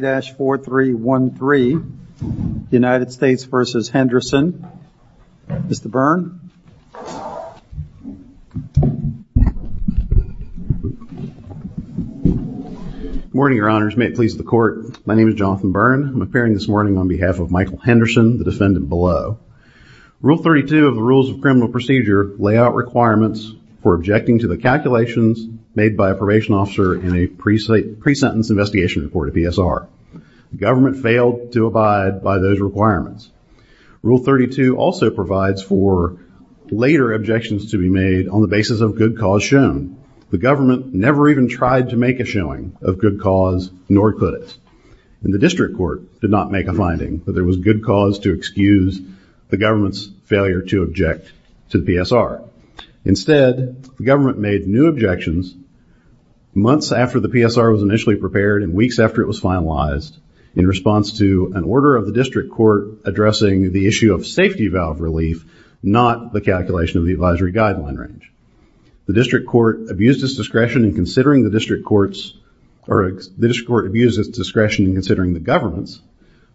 3-4-3-1-3 United States v. Henderson. Mr. Byrne. Good morning, your honors. May it please the court, my name is Jonathan Byrne. I'm appearing this morning on behalf of Michael Henderson, the defendant below. Rule 32 of the Rules of Criminal Procedure lay out requirements for objecting to the calculations made by a probation officer in a pre-sentence investigation report to PSR. The government failed to abide by those requirements. Rule 32 also provides for later objections to be made on the basis of good cause shown. The government never even tried to make a showing of good cause nor could it. And the district court did not make a finding that there was good cause to excuse the government's failure to object to the PSR. Instead, the government made new objections months after the PSR was initially prepared and weeks after it was finalized in response to an order of the district court addressing the issue of safety valve relief, not the calculation of the advisory guideline range. The district court abused its discretion in considering the district court's or the district court abused its discretion in considering the government's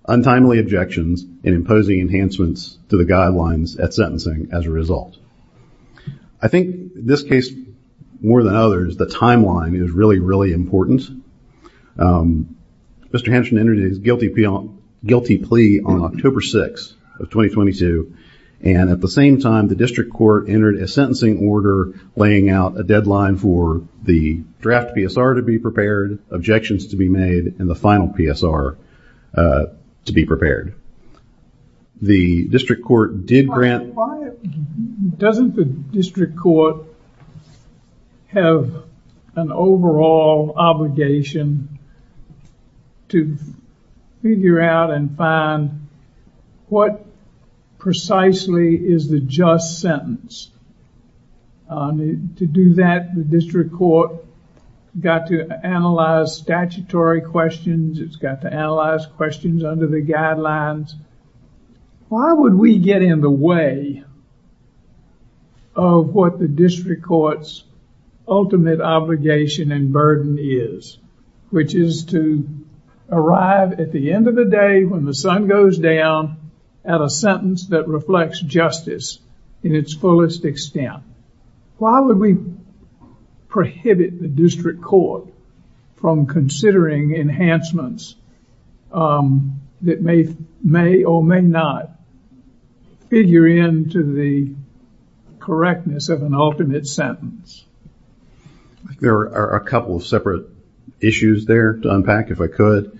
untimely objections and imposing enhancements to the guidelines at sentencing as a result. I think this case, more than others, the timeline is really, really important. Mr. Henderson entered his guilty plea on October 6th of 2022 and at the same time the district court entered a sentencing order laying out a deadline for the draft PSR to be prepared, objections to be made, and the final PSR to be prepared. The district court did grant... Why doesn't the district court have an overall obligation to figure out and find what precisely is the just sentence? To do that, the district court got to analyze statutory questions. It's got to analyze questions under the guidelines. Why would we get in the way of what the district court's ultimate obligation and burden is, which is to arrive at the end of the day when the sun goes down at a sentence that reflects justice in its fullest extent? Why would we prohibit the district court from considering enhancements that may or may not figure into the correctness of an ultimate sentence? There are a couple of separate issues there to unpack, if I could.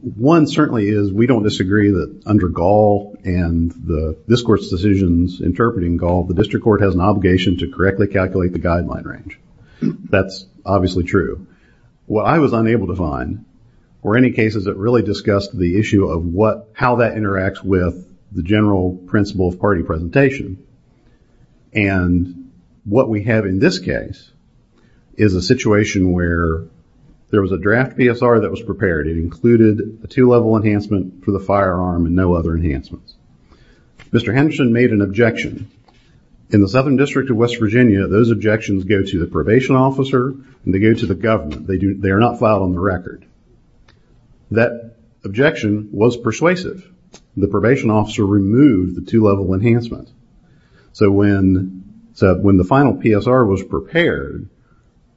One certainly is we don't disagree that under Gall and this court's decisions interpreting Gall, the district court has an obligation to correctly calculate the guideline range. That's obviously true. What I was unable to find were any cases that really discussed the issue of how that interacts with the general principle of party presentation. What we have in this case is a situation where there was a draft PSR that was prepared. It included a two-level enhancement for the firearm and no other enhancements. Mr. Henderson made an objection. In the Southern District of West Virginia, those objections go to the probation officer and they go to the government. They are not filed on the record. That objection was persuasive. The probation officer removed the two-level enhancement. When the final PSR was prepared,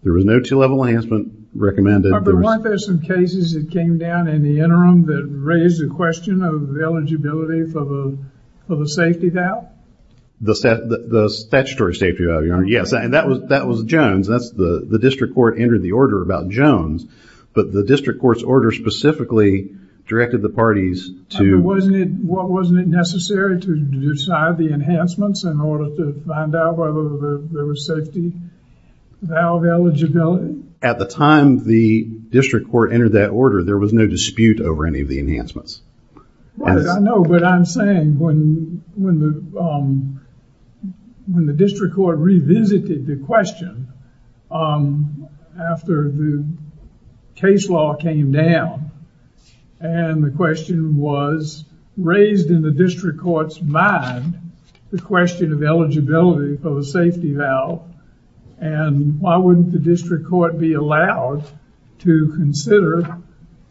there was no two-level enhancement recommended. Weren't there some cases that came down in the interim that raised the question of eligibility for the safety valve? The statutory safety valve, yes. That was Jones. The district court entered the order about Jones. The district court's order specifically directed the parties to... Wasn't it necessary to decide the enhancements in order to find out whether there was safety valve eligibility? At the time the district court entered that order, there was no dispute over any of the enhancements. Right. I know, but I'm saying when the district court revisited the question after the case law came down and the question was raised in the district court's mind, the question of eligibility for the safety valve, and why wouldn't the district court be allowed to consider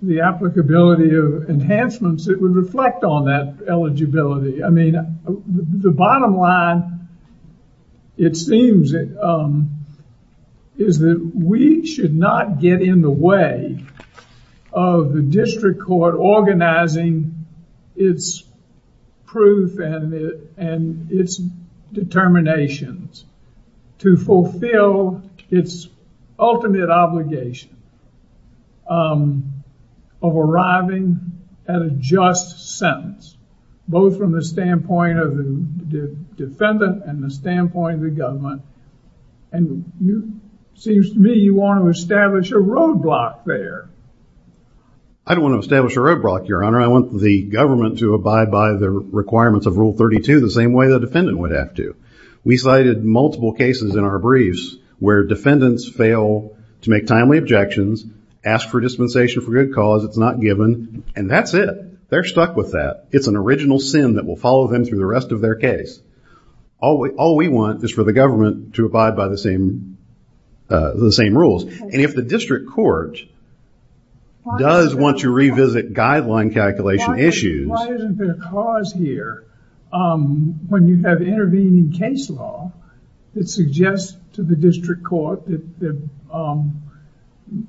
the applicability of enhancements that would reflect on that eligibility? The bottom line, it seems, is that we should not get in the way of the district court organizing its proof and its determinations to fulfill its ultimate obligation of arriving at a just sentence, both from the standpoint of the defendant and the standpoint of the government. And it seems to me you want to establish a roadblock there. I don't want to establish a roadblock, Your Honor. I want the government to abide by the requirements of Rule 32 the same way the defendant would have to. We cited multiple cases in our briefs where defendants fail to make timely objections, ask for dispensation for good cause, it's not given, and that's it. They're stuck with that. It's an original sin that will follow them through the rest of their case. All we want is for the government to abide by the same rules. And if the district court does want to revisit guideline calculation issues... Why isn't there a cause here when you have intervening case law that suggests to the district court that they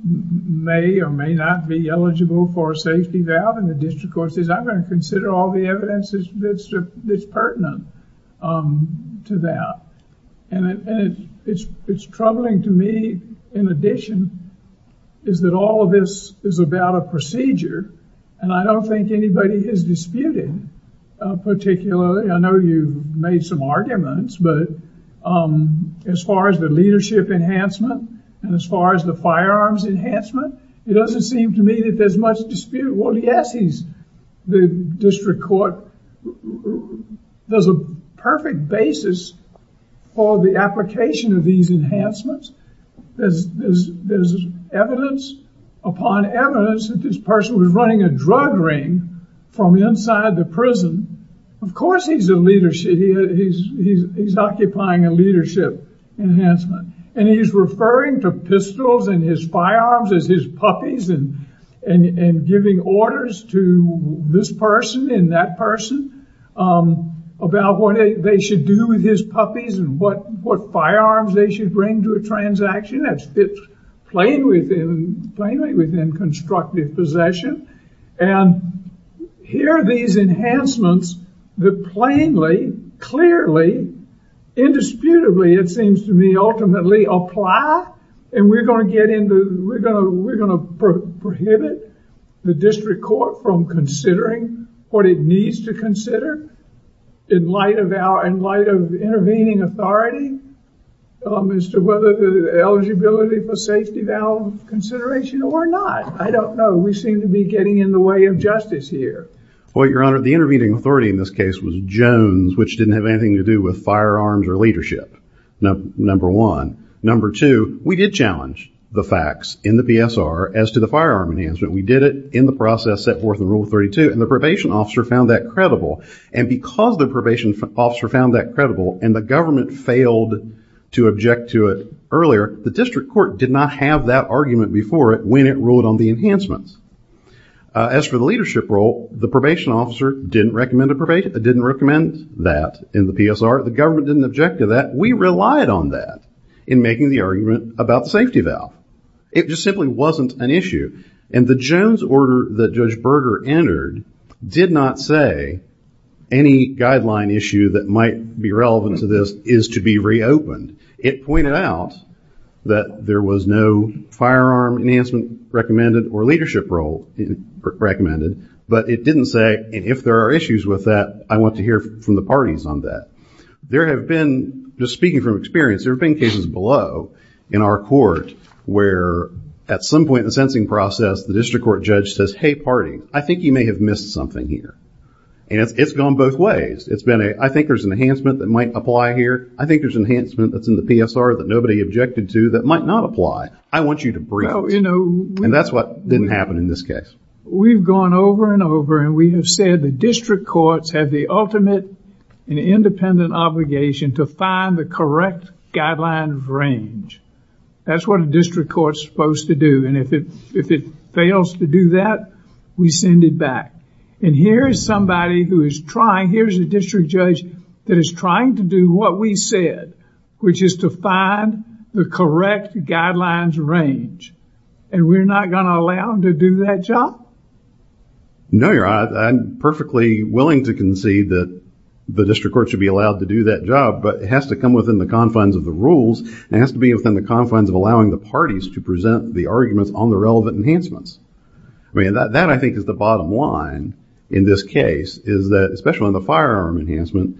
may or may not be eligible for a safety valve, and the district court says I'm going to consider all the evidence that's pertinent to that. And it's troubling to me, in addition, is that all of this is about a procedure, and I don't think anybody has disputed particularly. I know you made some arguments, but as far as the leadership enhancement and as far as the firearms enhancement, it doesn't seem to me that there's much dispute. Well, yes, the district court does a perfect basis for the application of these enhancements. There's evidence upon evidence that this person was running a drug ring from inside the prison. Of course he's a leadership, he's occupying a leadership enhancement, and he's referring to pistols and his firearms as his puppies and giving orders to this person and that person about what they should do with his puppies and what firearms they should bring to a transaction. It's plainly within constructive possession. And here are these enhancements that plainly, clearly, indisputably, it seems to me, ultimately, apply. And we're going to get into, we're going to prohibit the district court from considering what it needs to consider in light of intervening authority as to whether the eligibility for safety valve consideration or not. I don't know. We seem to be getting in the way of justice here. Well, Your Honor, the intervening authority in this case was Jones, which didn't have anything to do with firearms or leadership, number one. Number two, we did challenge the facts in the PSR as to the firearm enhancement. We did it in the process set forth in Rule 32, and the probation officer found that credible. And because the probation officer found that credible and the government failed to object to it earlier, the district court did not have that argument before it when it ruled on the enhancements. As for the leadership role, the probation officer didn't recommend that in the PSR. The government didn't object to that. We relied on that in making the argument about the safety valve. It just simply wasn't an issue. And the Jones order that Judge Berger entered did not say any guideline issue that might be relevant to this is to be reopened. It pointed out that there was no firearm enhancement recommended or leadership role recommended, but it didn't say, and if there are issues with that, I want to hear from the parties on that. There have been, just speaking from experience, there have been cases below in our court where at some point in the sensing process the district court judge says, hey, party, I think you may have missed something here. And it's gone both ways. It's been a, I think there's an enhancement that might apply here. I think there's enhancement that's in the PSR that nobody objected to that might not apply. I want you to brief us. And that's what didn't happen in this case. We've gone over and over and we have said the district courts have the ultimate and independent obligation to find the correct guideline range. That's what a district court is supposed to do. And if it fails to do that, we send it back. And here is somebody who is trying, here's a district judge that is trying to do what we said, which is to find the correct guidelines range. And we're not going to allow him to do that job? No, Your Honor. I'm perfectly willing to concede that the district court should be allowed to do that job, but it has to come within the confines of the rules. It has to be within the confines of allowing the parties to present the arguments on the relevant enhancements. I mean, that I think is the bottom line in this case, is that, especially on the firearm enhancement,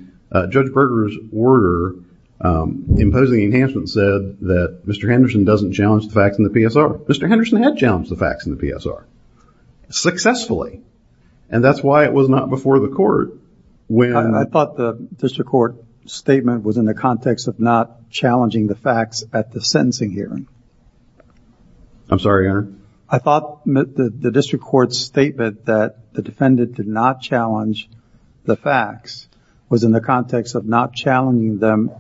Judge Berger's order imposing the enhancement said that Mr. Henderson doesn't challenge the facts in the PSR. Mr. Henderson had challenged the facts in the PSR, successfully. And that's why it was not before the court. I thought the district court statement was in the context of not challenging the facts at the sentencing hearing. I'm sorry, Your Honor? I thought the district court's statement that the defendant did not challenge the facts was in the context of not challenging them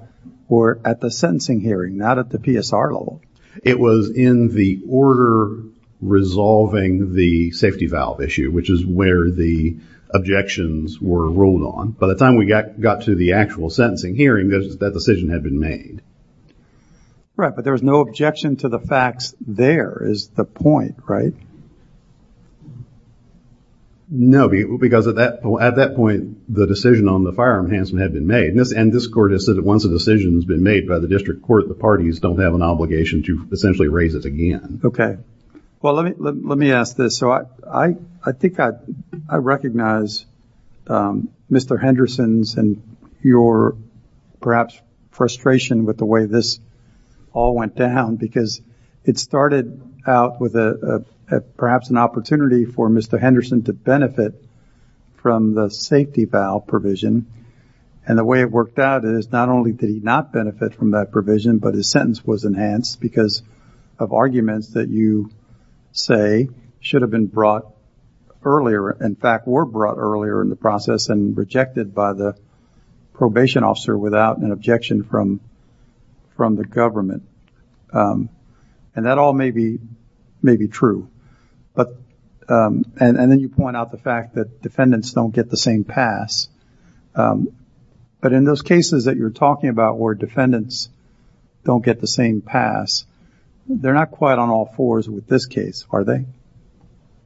or at the sentencing hearing, not at the PSR level. It was in the order resolving the safety valve issue, which is where the objections were ruled on. By the time we got to the actual sentencing hearing, that decision had been made. Right, but there was no objection to the facts there is the point, right? No, because at that point, the decision on the firearm enhancement had been made, and this court has said that once a decision has been made by the district court, the parties don't have an obligation to essentially raise it again. Okay. Well, let me ask this. So I think I recognize Mr. Henderson's and your perhaps frustration with the way this all went down because it's started out with perhaps an opportunity for Mr. Henderson to benefit from the safety valve provision, and the way it worked out is not only did he not benefit from that provision, but his sentence was enhanced because of arguments that you say should have been brought earlier, in fact were brought earlier in the process and rejected by the probation officer without an objection from the government, and that all may be true, and then you point out the fact that defendants don't get the same pass, but in those cases that you're talking about where defendants don't get the same pass, they're not quite on all fours with this case, are they?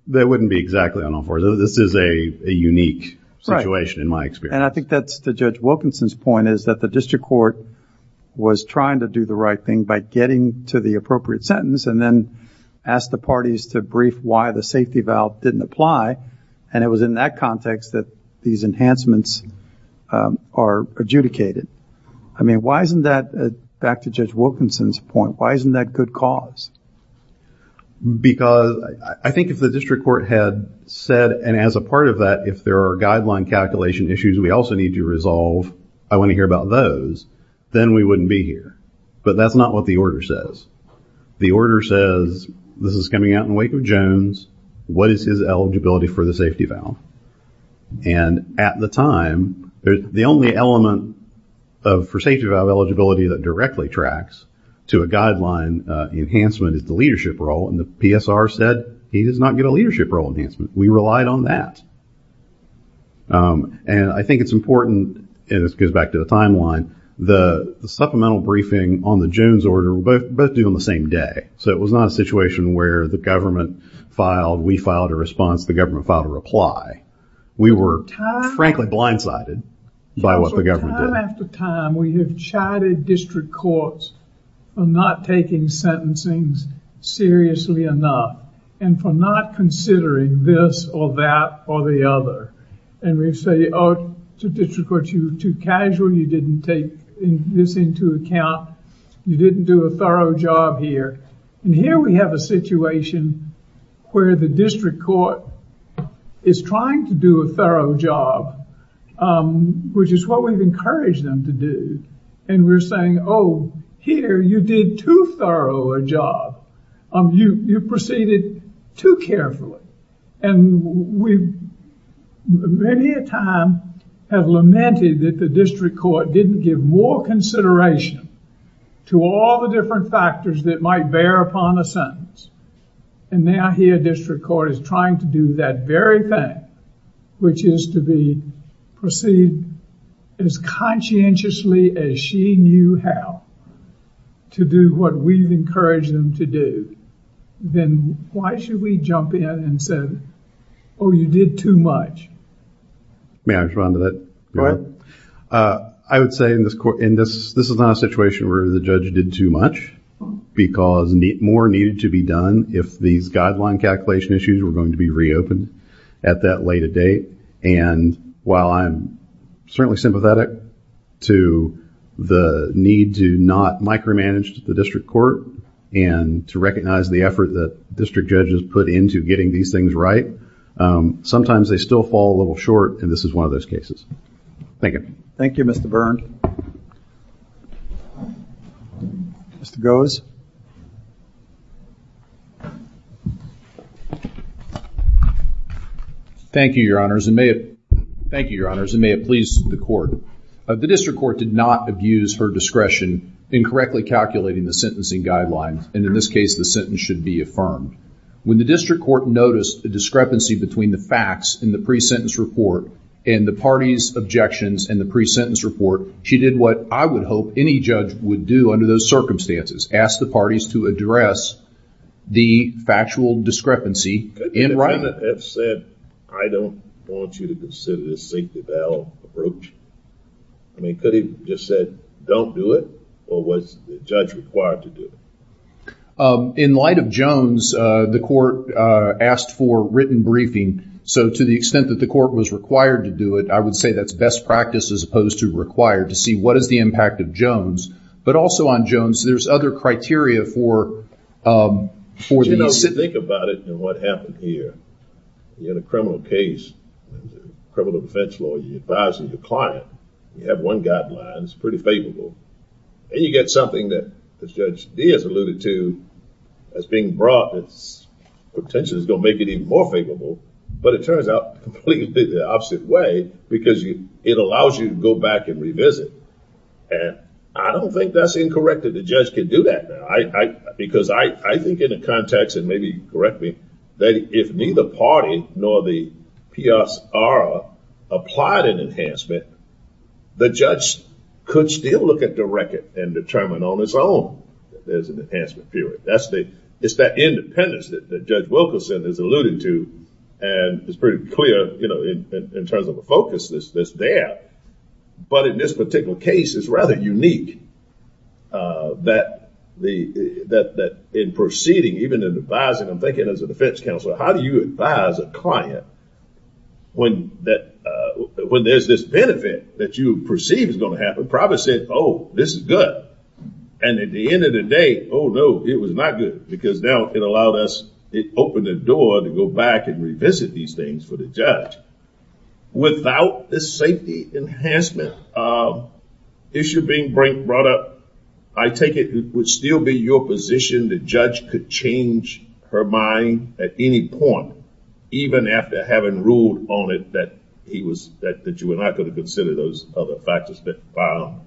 They wouldn't be exactly on all fours. This is a unique situation in my experience. Right, and I think that's to Judge Wilkinson's point is that the district court was trying to do the right thing by getting to the appropriate sentence and then asked the parties to brief why the safety valve didn't apply, and it was in that context that these enhancements are adjudicated. I mean, why isn't that, back to Judge Wilkinson's point, why isn't that good cause? Because I think if the district court had said, and as a part of that if there are guideline calculation issues we also need to resolve, I want to hear about those, then we wouldn't be here. But that's not what the order says. The order says, this is coming out in wake of Jones, what is his eligibility for the safety valve? And at the time, the only element of for safety valve eligibility that directly tracks to a guideline enhancement is the leadership role, and the PSR said he does not get a leadership role enhancement. We relied on that. And I think it's important, and this goes back to the timeline, the supplemental briefing on the Jones order were both due on the same day, so it was not a situation where the government filed, we filed a response, the government filed a reply. We were frankly blindsided by what the government did. Time after time we have chided district courts for not taking sentencings seriously enough, and for not considering this or that or the other. And we say, oh, to district courts, you're too casual, you didn't take this into account, you didn't do a thorough job here. And here we have a situation where the district court is trying to do a thorough job, which is what we've encouraged them to do, and we're saying, oh, here you did too thorough a job, you proceeded too carefully. And we many a time have lamented that the district court didn't give more consideration to all the different factors that might bear upon a sentence, and now here district court is trying to do that very thing, which is to proceed as conscientiously as she knew how to do what we've encouraged them to do. Then why should we jump in and say, oh, you did too much? May I respond to that? Go ahead. I would say in this court, this is not a situation where the judge did too much, because more needed to be done if these guideline calculation issues were going to be reopened at that later date, and while I'm certainly sympathetic to the need to not micromanage the district court and to recognize the effort that district judges put into getting these things right, sometimes they still fall a little short, and this is one of those cases. Thank you. Thank you, Mr. Byrne. Mr. Gose. Thank you, Your Honors, and may it please the court. The district court did not abuse her discretion in correctly calculating the sentencing guidelines, and in this case the sentence should be affirmed. When the district court noticed the discrepancy between the facts in the pre-sentence report and the party's objections in the pre-sentence report, she did what I would hope any judge would do under those circumstances, ask the parties to address the factual discrepancy in writing. Couldn't the defendant have said, I don't want you to consider this safety valve approach? I mean, could he have just said, don't do it, or was the judge required to do it? In light of Jones, the court asked for written briefing, so to the extent that the court was required to do it, I would say that's best practice as opposed to required, to see what is the impact of Jones, but also on Jones, there's other criteria for the... You know, if you think about it and what happened here, you had a criminal case, a criminal defense law, you're advising your client, you have one guideline, it's pretty favorable, and you get something that Judge Diaz alluded to as being brought that potentially is going to make it even more favorable, but it turns out completely the opposite way, because it allows you to go back and revisit, and I don't think that's incorrect that the judge can do that, because I think in the context, and maybe correct me, that if neither party nor the PSR applied an enhancement, the judge could still look at the record and determine on its own that there's an enhancement period. It's that independence that Judge Wilkerson has alluded to, and it's pretty clear in terms of the focus that's there, but in this particular case, it's rather unique that in proceeding, even in advising, I'm thinking as a defense counsel, how do you advise a client when there's this benefit that you perceive is going to happen, probably say, oh, this is good, and at the end of the day, oh, no, it was not good, because now it allowed us, it opened the door to go back and revisit these things for the judge. Without this safety enhancement issue being brought up, I take it it would still be your position the judge could change her mind at any point, even after having ruled on it that he was, that you were not going to consider those other factors that,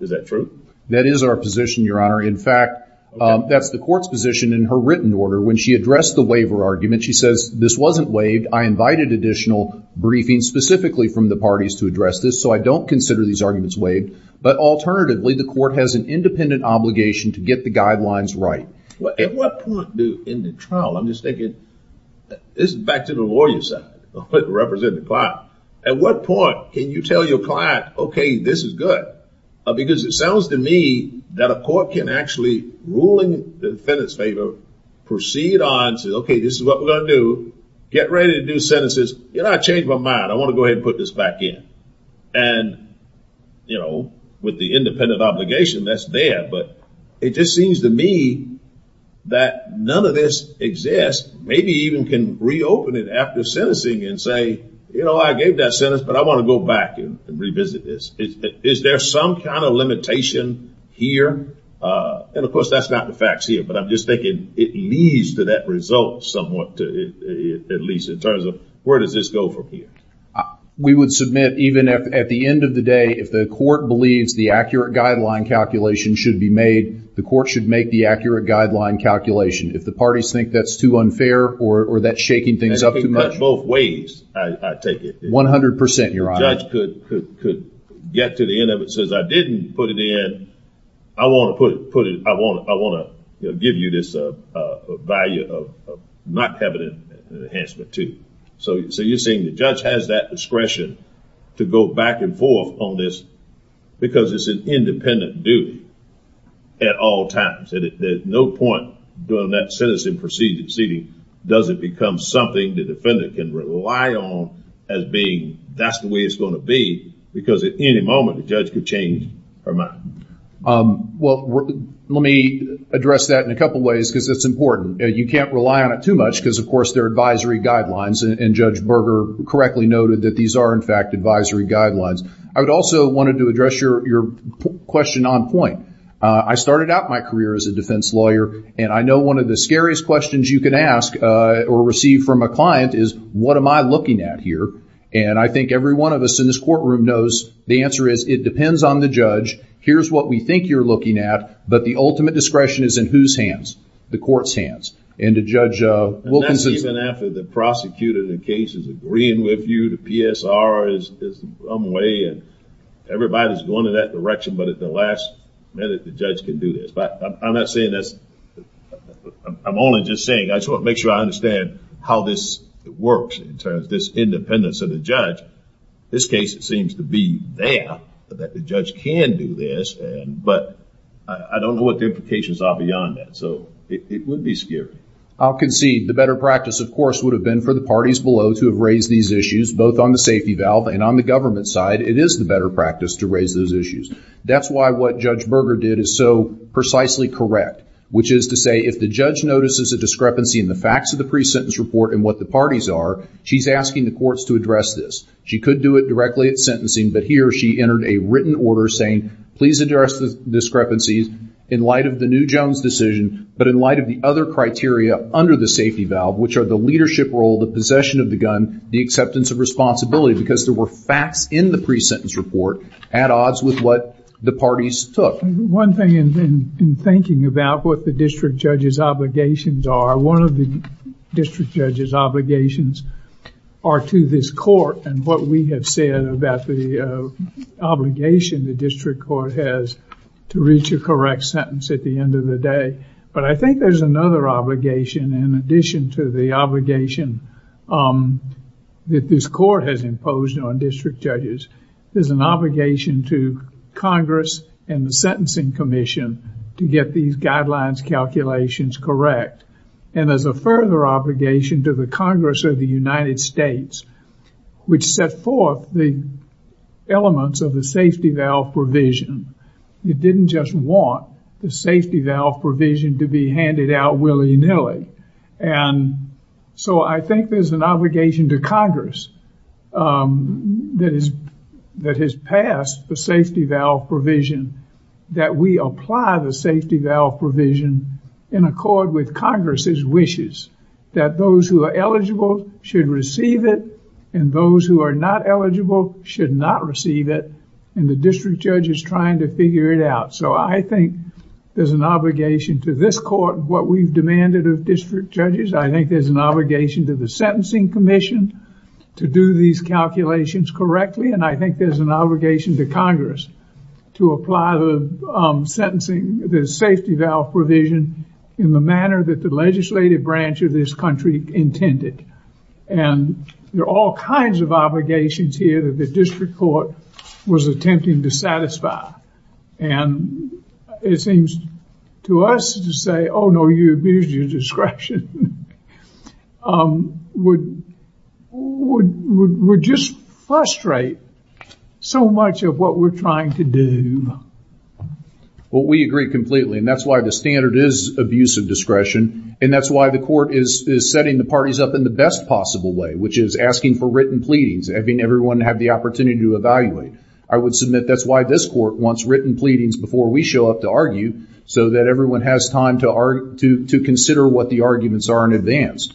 is that true? That is our position, your honor. In fact, that's the court's position in her written order. When she addressed the waiver argument, she says, this wasn't waived, I invited additional briefings specifically from the parties to address this, so I don't consider these arguments waived, but alternatively, the court has an independent obligation to get the guidelines right. At what point do, in the trial, I'm just thinking, this is back to the lawyer's side, representing the client. At what point can you tell your client, okay, this is good, because it sounds to me that a court can actually, ruling the defendant's favor, proceed on, say, okay, this is what we're going to do, get ready to do sentences, you know, I changed my mind, I want to go ahead and put this back in, and, you know, with the independent obligation that's there, but it just seems to me that none of this exists, maybe even can reopen it after sentencing and say, you know, I gave that sentence, but I want to go back and revisit this. Is there some kind of limitation here? And, of course, that's not the facts here, but I'm just thinking it leads to that result somewhat, at least in terms of where does this go from here? We would submit, even at the end of the day, if the court believes the accurate guideline calculation should be made, the court should make the accurate guideline calculation. If the parties think that's too unfair, or that's shaking things up too much. In both ways, I take it. One hundred percent, Your Honor. If the judge could get to the end of it and says, I didn't put it in, I want to give you this value of not having an enhancement, too. So you're saying the judge has that discretion to go back and forth on this because it's an independent duty at all times, and at no point during that sentencing proceeding does it become something the defendant can rely on as being, that's the way it's going to be, because at any moment the judge could change her mind. Well, let me address that in a couple ways because it's important. You can't rely on it too much because, of course, they're advisory guidelines, and Judge Berger correctly noted that these are, in fact, advisory guidelines. I would also wanted to address your question on point. I started out my career as a defense lawyer, and I know one of the scariest questions you can ask or receive from a client is, what am I looking at here? And I think every one of us in this courtroom knows the answer is, it depends on the judge. Here's what we think you're looking at, but the ultimate discretion is in whose hands? The court's hands. And to Judge Wilkinson's- And that's even after the prosecutor in the case is agreeing with you, the PSR is some way, and everybody's going in that direction, but at the last minute the judge can do this. But I'm not saying this, I'm only just saying, I just want to make sure I understand how this works in terms of this independence of the judge. This case, it seems to be there that the judge can do this, but I don't know what the implications are beyond that. So it would be scary. I'll concede the better practice, of course, would have been for the parties below to have raised these issues, both on the safety valve and on the government side, it is the better practice to raise those issues. That's why what Judge Berger did is so precisely correct, which is to say, if the judge notices a discrepancy in the facts of the pre-sentence report and what the parties are, she's asking the courts to address this. She could do it directly at sentencing, but here she entered a written order saying, please address the discrepancies in light of the new Jones decision, but in light of the other criteria under the safety valve, which are the leadership role, the possession of the gun, the acceptance of responsibility, because there were facts in the pre-sentence report at odds with what the parties took. One thing in thinking about what the district judge's obligations are, one of the district judge's obligations are to this court and what we have said about the obligation the district court has to reach a correct sentence at the end of the day, but I think there's another obligation in addition to the obligation that this court has imposed on district judges. There's an obligation to Congress and the Sentencing Commission to get these guidelines calculations correct, and there's a further obligation to the Congress of the United States, which set forth the elements of the safety valve provision. It didn't just want the safety valve provision to be handed out willy-nilly, and so I think there's an obligation to Congress that has passed the safety valve provision that we apply the safety valve provision in accord with Congress's wishes, that those who are eligible should receive it, and those who are not eligible should not receive it, and the district judge is trying to figure it out. So I think there's an obligation to this court what we've demanded of district judges. I think there's an obligation to the Sentencing Commission to do these calculations correctly, and I think there's an obligation to Congress to apply the safety valve provision in the manner that the legislative branch of this country intended, and there are all kinds of obligations here that the district court was attempting to satisfy, and it seems to us to say, oh no, you abused your discretion, would just frustrate so much of what we're trying to do. Well, we agree completely, and that's why the standard is abuse of discretion, and that's why the court is setting the parties up in the best possible way, which is asking for written pleadings, having everyone have the opportunity to evaluate. I would submit that's why this court wants written pleadings before we show up to argue, so that everyone has time to consider what the arguments are in advance,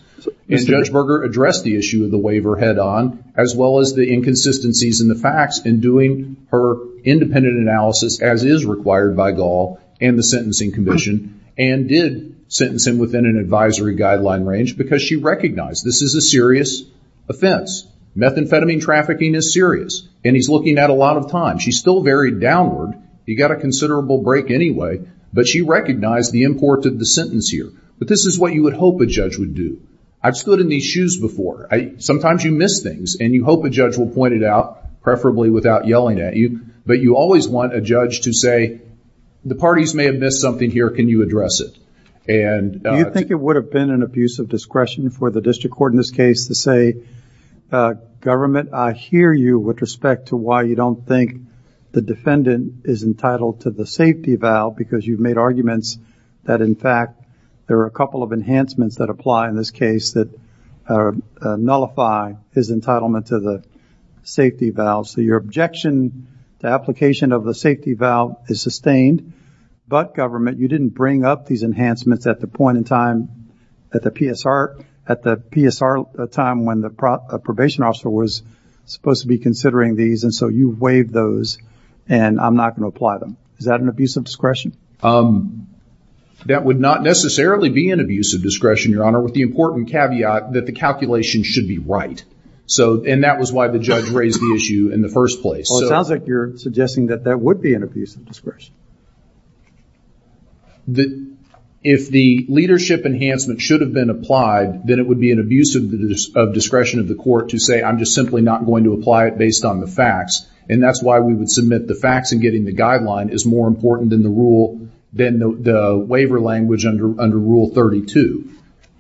and Judge Berger addressed the issue of the waiver head-on, as well as the inconsistencies in the facts in doing her independent analysis, as is required by Gall and the Sentencing Commission, and did sentence him within an advisory guideline range, because she recognized this is a serious offense. Methamphetamine trafficking is serious, and he's looking at a lot of time. She still varied downward. He got a considerable break anyway, but she recognized the import of the sentence here, but this is what you would hope a judge would do. I've stood in these shoes before. Sometimes you miss things, and you hope a judge will point it out, preferably without yelling at you, but you always want a judge to say, the parties may have missed something here, can you address it? Do you think it would have been an abuse of discretion for the district court in this case? The defendant is entitled to the safety vow, because you've made arguments that, in fact, there are a couple of enhancements that apply in this case that nullify his entitlement to the safety vow, so your objection to application of the safety vow is sustained, but, government, you didn't bring up these enhancements at the point in time at the PSR, at the PSR time when the probation officer was supposed to be considering these, and so you waived those and I'm not going to apply them. Is that an abuse of discretion? That would not necessarily be an abuse of discretion, your honor, with the important caveat that the calculation should be right, and that was why the judge raised the issue in the first place. Well, it sounds like you're suggesting that that would be an abuse of discretion. If the leadership enhancement should have been applied, then it would be an abuse of discretion of the court to say, I'm just simply not going to apply it based on the facts, and that's why we would submit the facts and getting the guideline is more important than the rule, than the waiver language under Rule 32.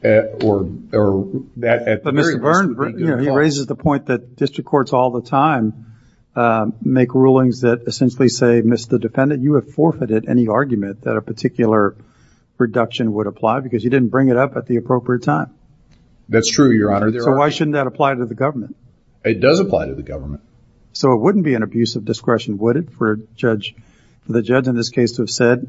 But Mr. Byrne, he raises the point that district courts all the time make rulings that essentially say, Mr. Defendant, you have forfeited any argument that a particular reduction would apply because you didn't bring it up at the appropriate time. That's true, your honor. So why shouldn't that apply to the government? It does apply to the government. So it wouldn't be an abuse of discretion, would it, for the judge in this case to have said,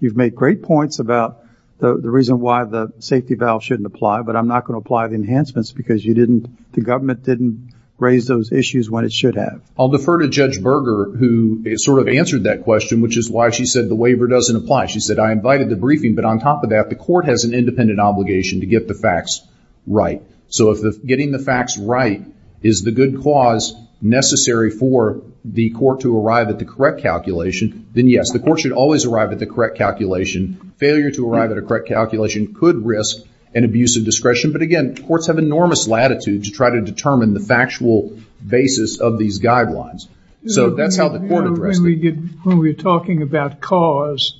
you've made great points about the reason why the safety valve shouldn't apply, but I'm not going to apply the enhancements because the government didn't raise those issues when it should have. I'll defer to Judge Berger, who sort of answered that question, which is why she said the waiver doesn't apply. She said, I invited the briefing, but on top of that, the court has an independent obligation to get the facts right. So if getting the facts right is the good cause necessary for the court to arrive at the correct calculation, then yes, the court should always arrive at the correct calculation. Failure to arrive at a correct calculation could risk an abuse of discretion. But again, courts have enormous latitude to try to determine the factual basis of these guidelines. So that's how the court addressed it. When we're talking about cause,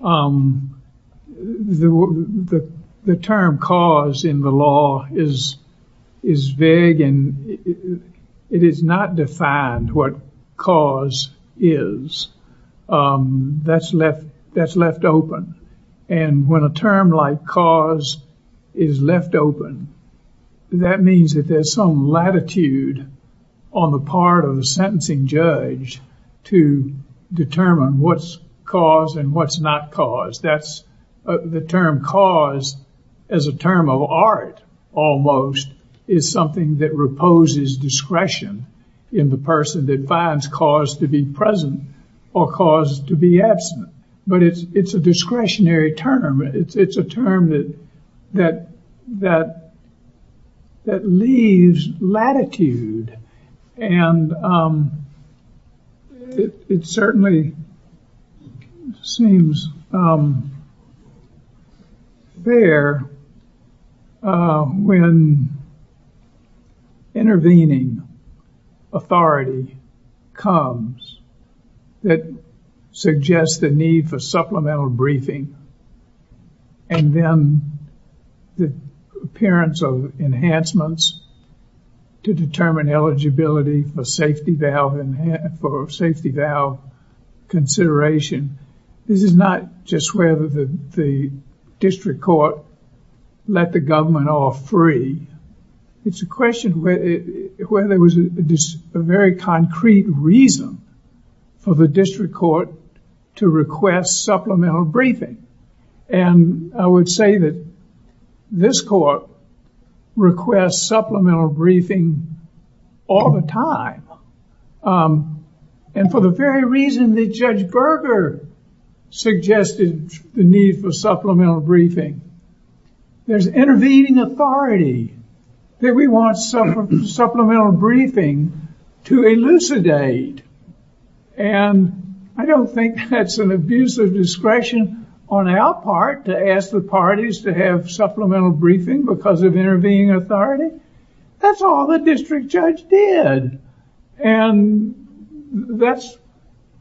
the term cause in the law is vague and it is not defined what cause is. That's left open. And when a term like cause is left open, that means that there's some latitude on the part of the sentencing judge to determine what's cause and what's not cause. That's the term cause as a term of art, almost, is something that reposes discretion in the person that finds cause to be present or cause to be absent. But it's a discretionary term. It's a term that leaves latitude. And it certainly seems fair when intervening authority comes that suggests the need for and then the appearance of enhancements to determine eligibility for safety valve consideration. This is not just whether the district court let the government off free. It's a question whether there was a very concrete reason for the district court to request supplemental briefing. And I would say that this court requests supplemental briefing all the time. And for the very reason that Judge Berger suggested the need for supplemental briefing, there's intervening authority that we want supplemental briefing to elucidate. And I don't think that's an abuse of discretion on our part to ask the parties to have supplemental briefing because of intervening authority. That's all the district judge did. And that's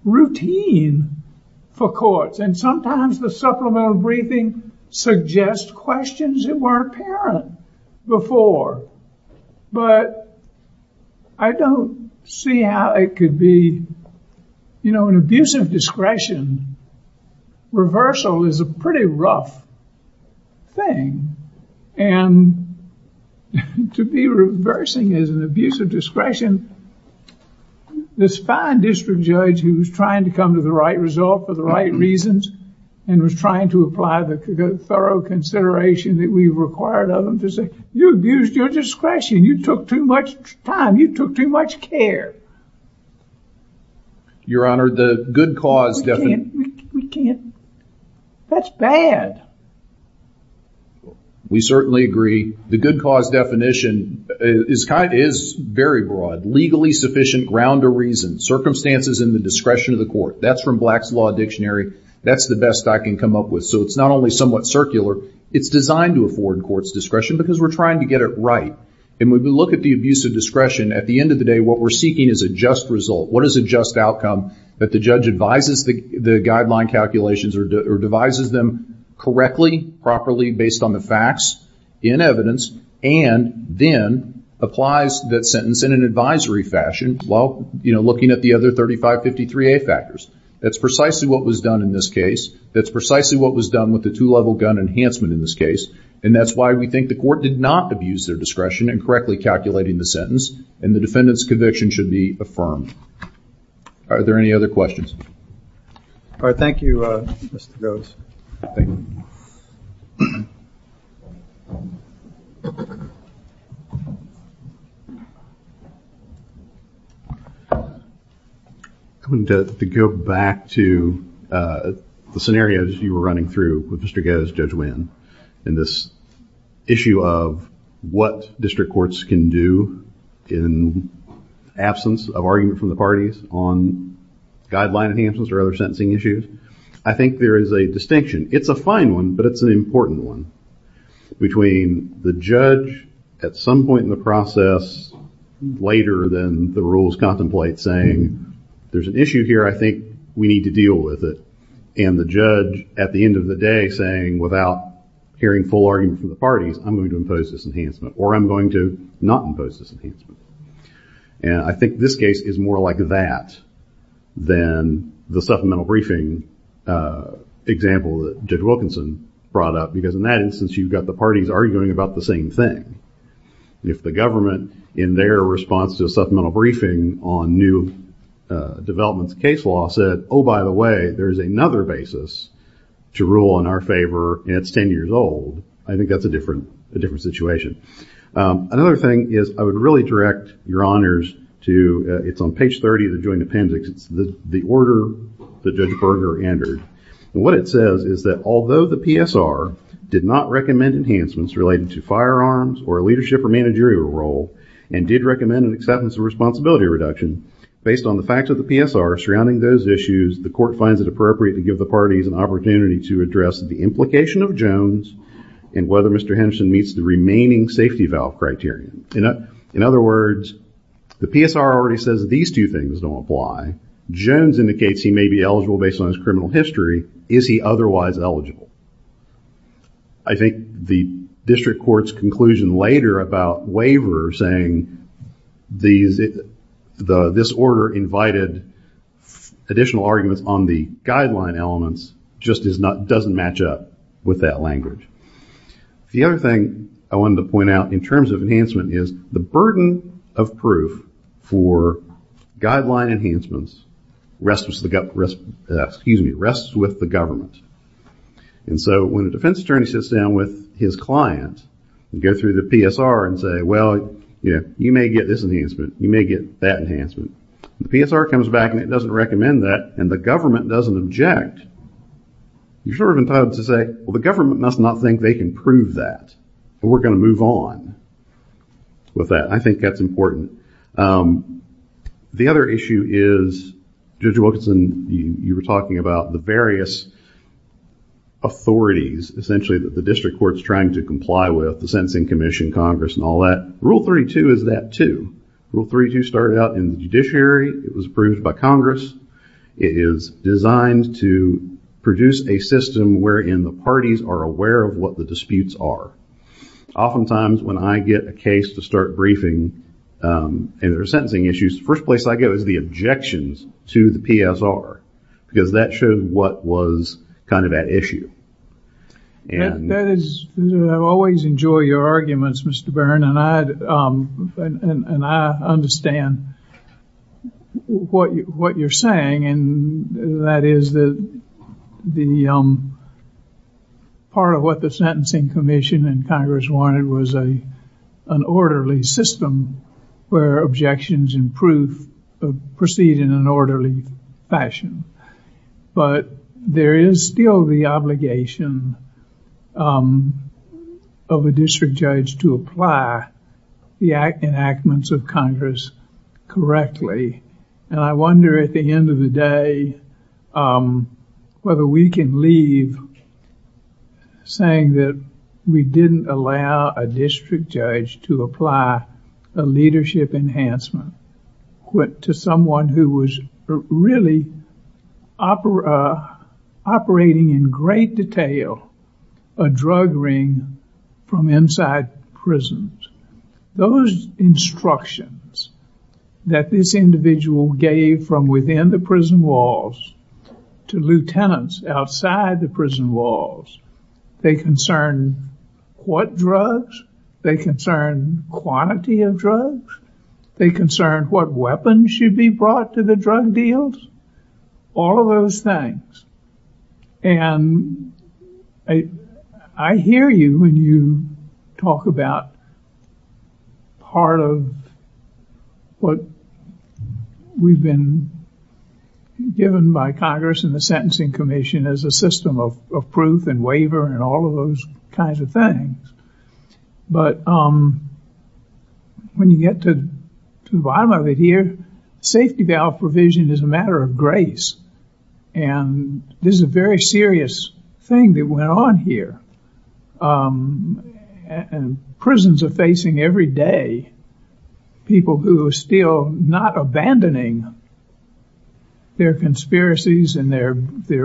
routine for courts. And sometimes the supplemental briefing suggests questions that weren't apparent before. But I don't see how it could be, you know, an abuse of discretion. Reversal is a pretty rough thing. And to be reversing is an abuse of discretion. This fine district judge who was trying to come to the right result for the right reasons and was trying to apply the thorough consideration that we required of them to say, you abused your discretion. You took too much time. You took too much care. Your Honor, the good cause definition. We can't. That's bad. We certainly agree. The good cause definition is very broad. Legally sufficient ground to reason. Circumstances in the discretion of the court. That's from Black's Law Dictionary. That's the best I can come up with. So it's not only somewhat circular, it's designed to afford courts discretion because we're trying to get it right. And when we look at the abuse of discretion, at the end of the day, what we're seeking is a just result. What is a just outcome that the judge advises the guideline calculations or devises them correctly, properly, based on the facts, in evidence, and then applies that sentence in an advisory fashion while, you know, looking at the other 3553A factors. That's precisely what was done in this case. That's precisely what was done with the two-level gun enhancement in this case. And that's why we think the court did not abuse their discretion in correctly calculating the sentence and the defendant's conviction should be affirmed. Are there any other questions? All right. Thank you, Mr. Gose. Thank you. I wanted to go back to the scenarios you were running through with Mr. Gose, Judge Winn, in this issue of what district courts can do in absence of argument from the parties on guideline enhancements or other sentencing issues. I think there is a distinction. It's a fine one, but it's an important one, between the judge at some point in the process later than the rules contemplate saying, there's an issue here, I think we need to deal with it, and the judge at the end of the day saying, without hearing full argument from the parties, I'm going to impose this enhancement, or I'm going to not impose this enhancement. And I think this case is more like that than the supplemental briefing example that Judge Wilkinson brought up, because in that instance, you've got the parties arguing about the same thing. And if the government, in their response to a supplemental briefing on new developments case law, said, oh, by the way, there's another basis to rule in our favor, and it's ten years old, I think that's a different situation. Another thing is, I would really direct your honors to, it's on page 30 of the joint appendix, the order that Judge Berger entered. What it says is that although the PSR did not recommend enhancements related to firearms or leadership or managerial role, and did recommend an acceptance of responsibility reduction, based on the facts of the PSR surrounding those issues, the court finds it appropriate to give the parties an opportunity to address the implication of Jones, and whether Mr. Henderson meets the remaining safety valve criteria. In other words, the PSR already says these two things don't apply, Jones indicates he may be eligible based on his criminal history, is he otherwise eligible? I think the district court's conclusion later about waiver saying this order invited additional arguments on the guideline elements just doesn't match up with that language. The other thing I wanted to point out in terms of enhancement is, the burden of proof for guideline enhancements rests with the government. When a defense attorney sits down with his client, and go through the PSR and say, well, you may get this enhancement, you may get that enhancement, the PSR comes back and it doesn't recommend that, and the government doesn't object, you're sort of entitled to say, well, the government must not think they can prove that, and we're going to move on with that, and I think that's important. The other issue is, Judge Wilkinson, you were talking about the various authorities, essentially that the district court's trying to comply with, the Sentencing Commission, Congress and all that, Rule 32 is that too. Rule 32 started out in the judiciary, it was approved by Congress, it is designed to produce a system wherein the parties are aware of what the disputes are. Oftentimes, when I get a case to start briefing, and there are sentencing issues, the first place I go is the objections to the PSR, because that shows what was kind of at issue. I always enjoy your arguments, Mr. Byrne, and I understand what you're saying, and that is that part of what the Sentencing Commission and Congress wanted was an orderly system where objections and proof proceed in an orderly fashion, but there is still the obligation of a district judge to apply the enactments of Congress correctly, and I wonder at the time whether we can leave saying that we didn't allow a district judge to apply a leadership enhancement to someone who was really operating in great detail a drug ring from inside prisons. Those instructions that this individual gave from within the prison walls to lieutenants outside the prison walls, they concern what drugs, they concern quantity of drugs, they concern what weapons should be brought to the drug deals, all of those things, and I hear you when you talk about part of what we've been given by Congress and the Sentencing Commission as a system of proof and waiver and all of those kinds of things, but when you get to the bottom of it here, safety valve provision is a matter of grace, and this is a very serious thing that went on here, and prisons are facing every day people who are still not abandoning their conspiracies and their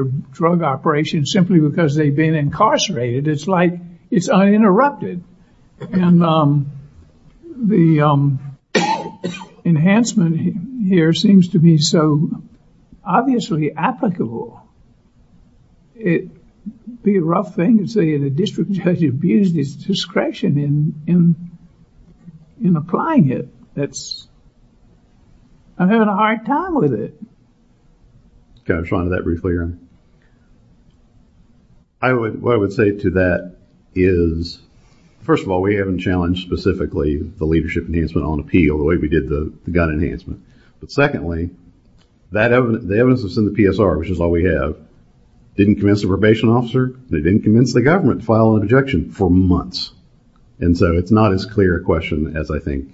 drug operations simply because they've been incarcerated. It's like it's uninterrupted, and the enhancement here seems to be so obviously applicable. It'd be a rough thing to say the district judge abused his discretion in applying it. I'm having a hard time with it. Can I respond to that briefly, Aaron? What I would say to that is, first of all, we haven't challenged specifically the leadership enhancement on appeal the way we did the gun enhancement, but secondly, the evidence that's in the PSR, which is all we have, didn't convince the probation officer, and it didn't convince the government to file an objection for months, and so it's not as clear a question as I think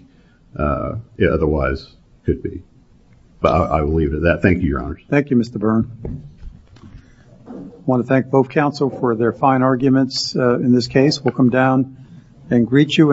it otherwise could be, but I will leave it at that. Thank you, Your Honor. Thank you, Mr. Byrne. I want to thank both counsel for their fine arguments in this case. We'll come down and greet you.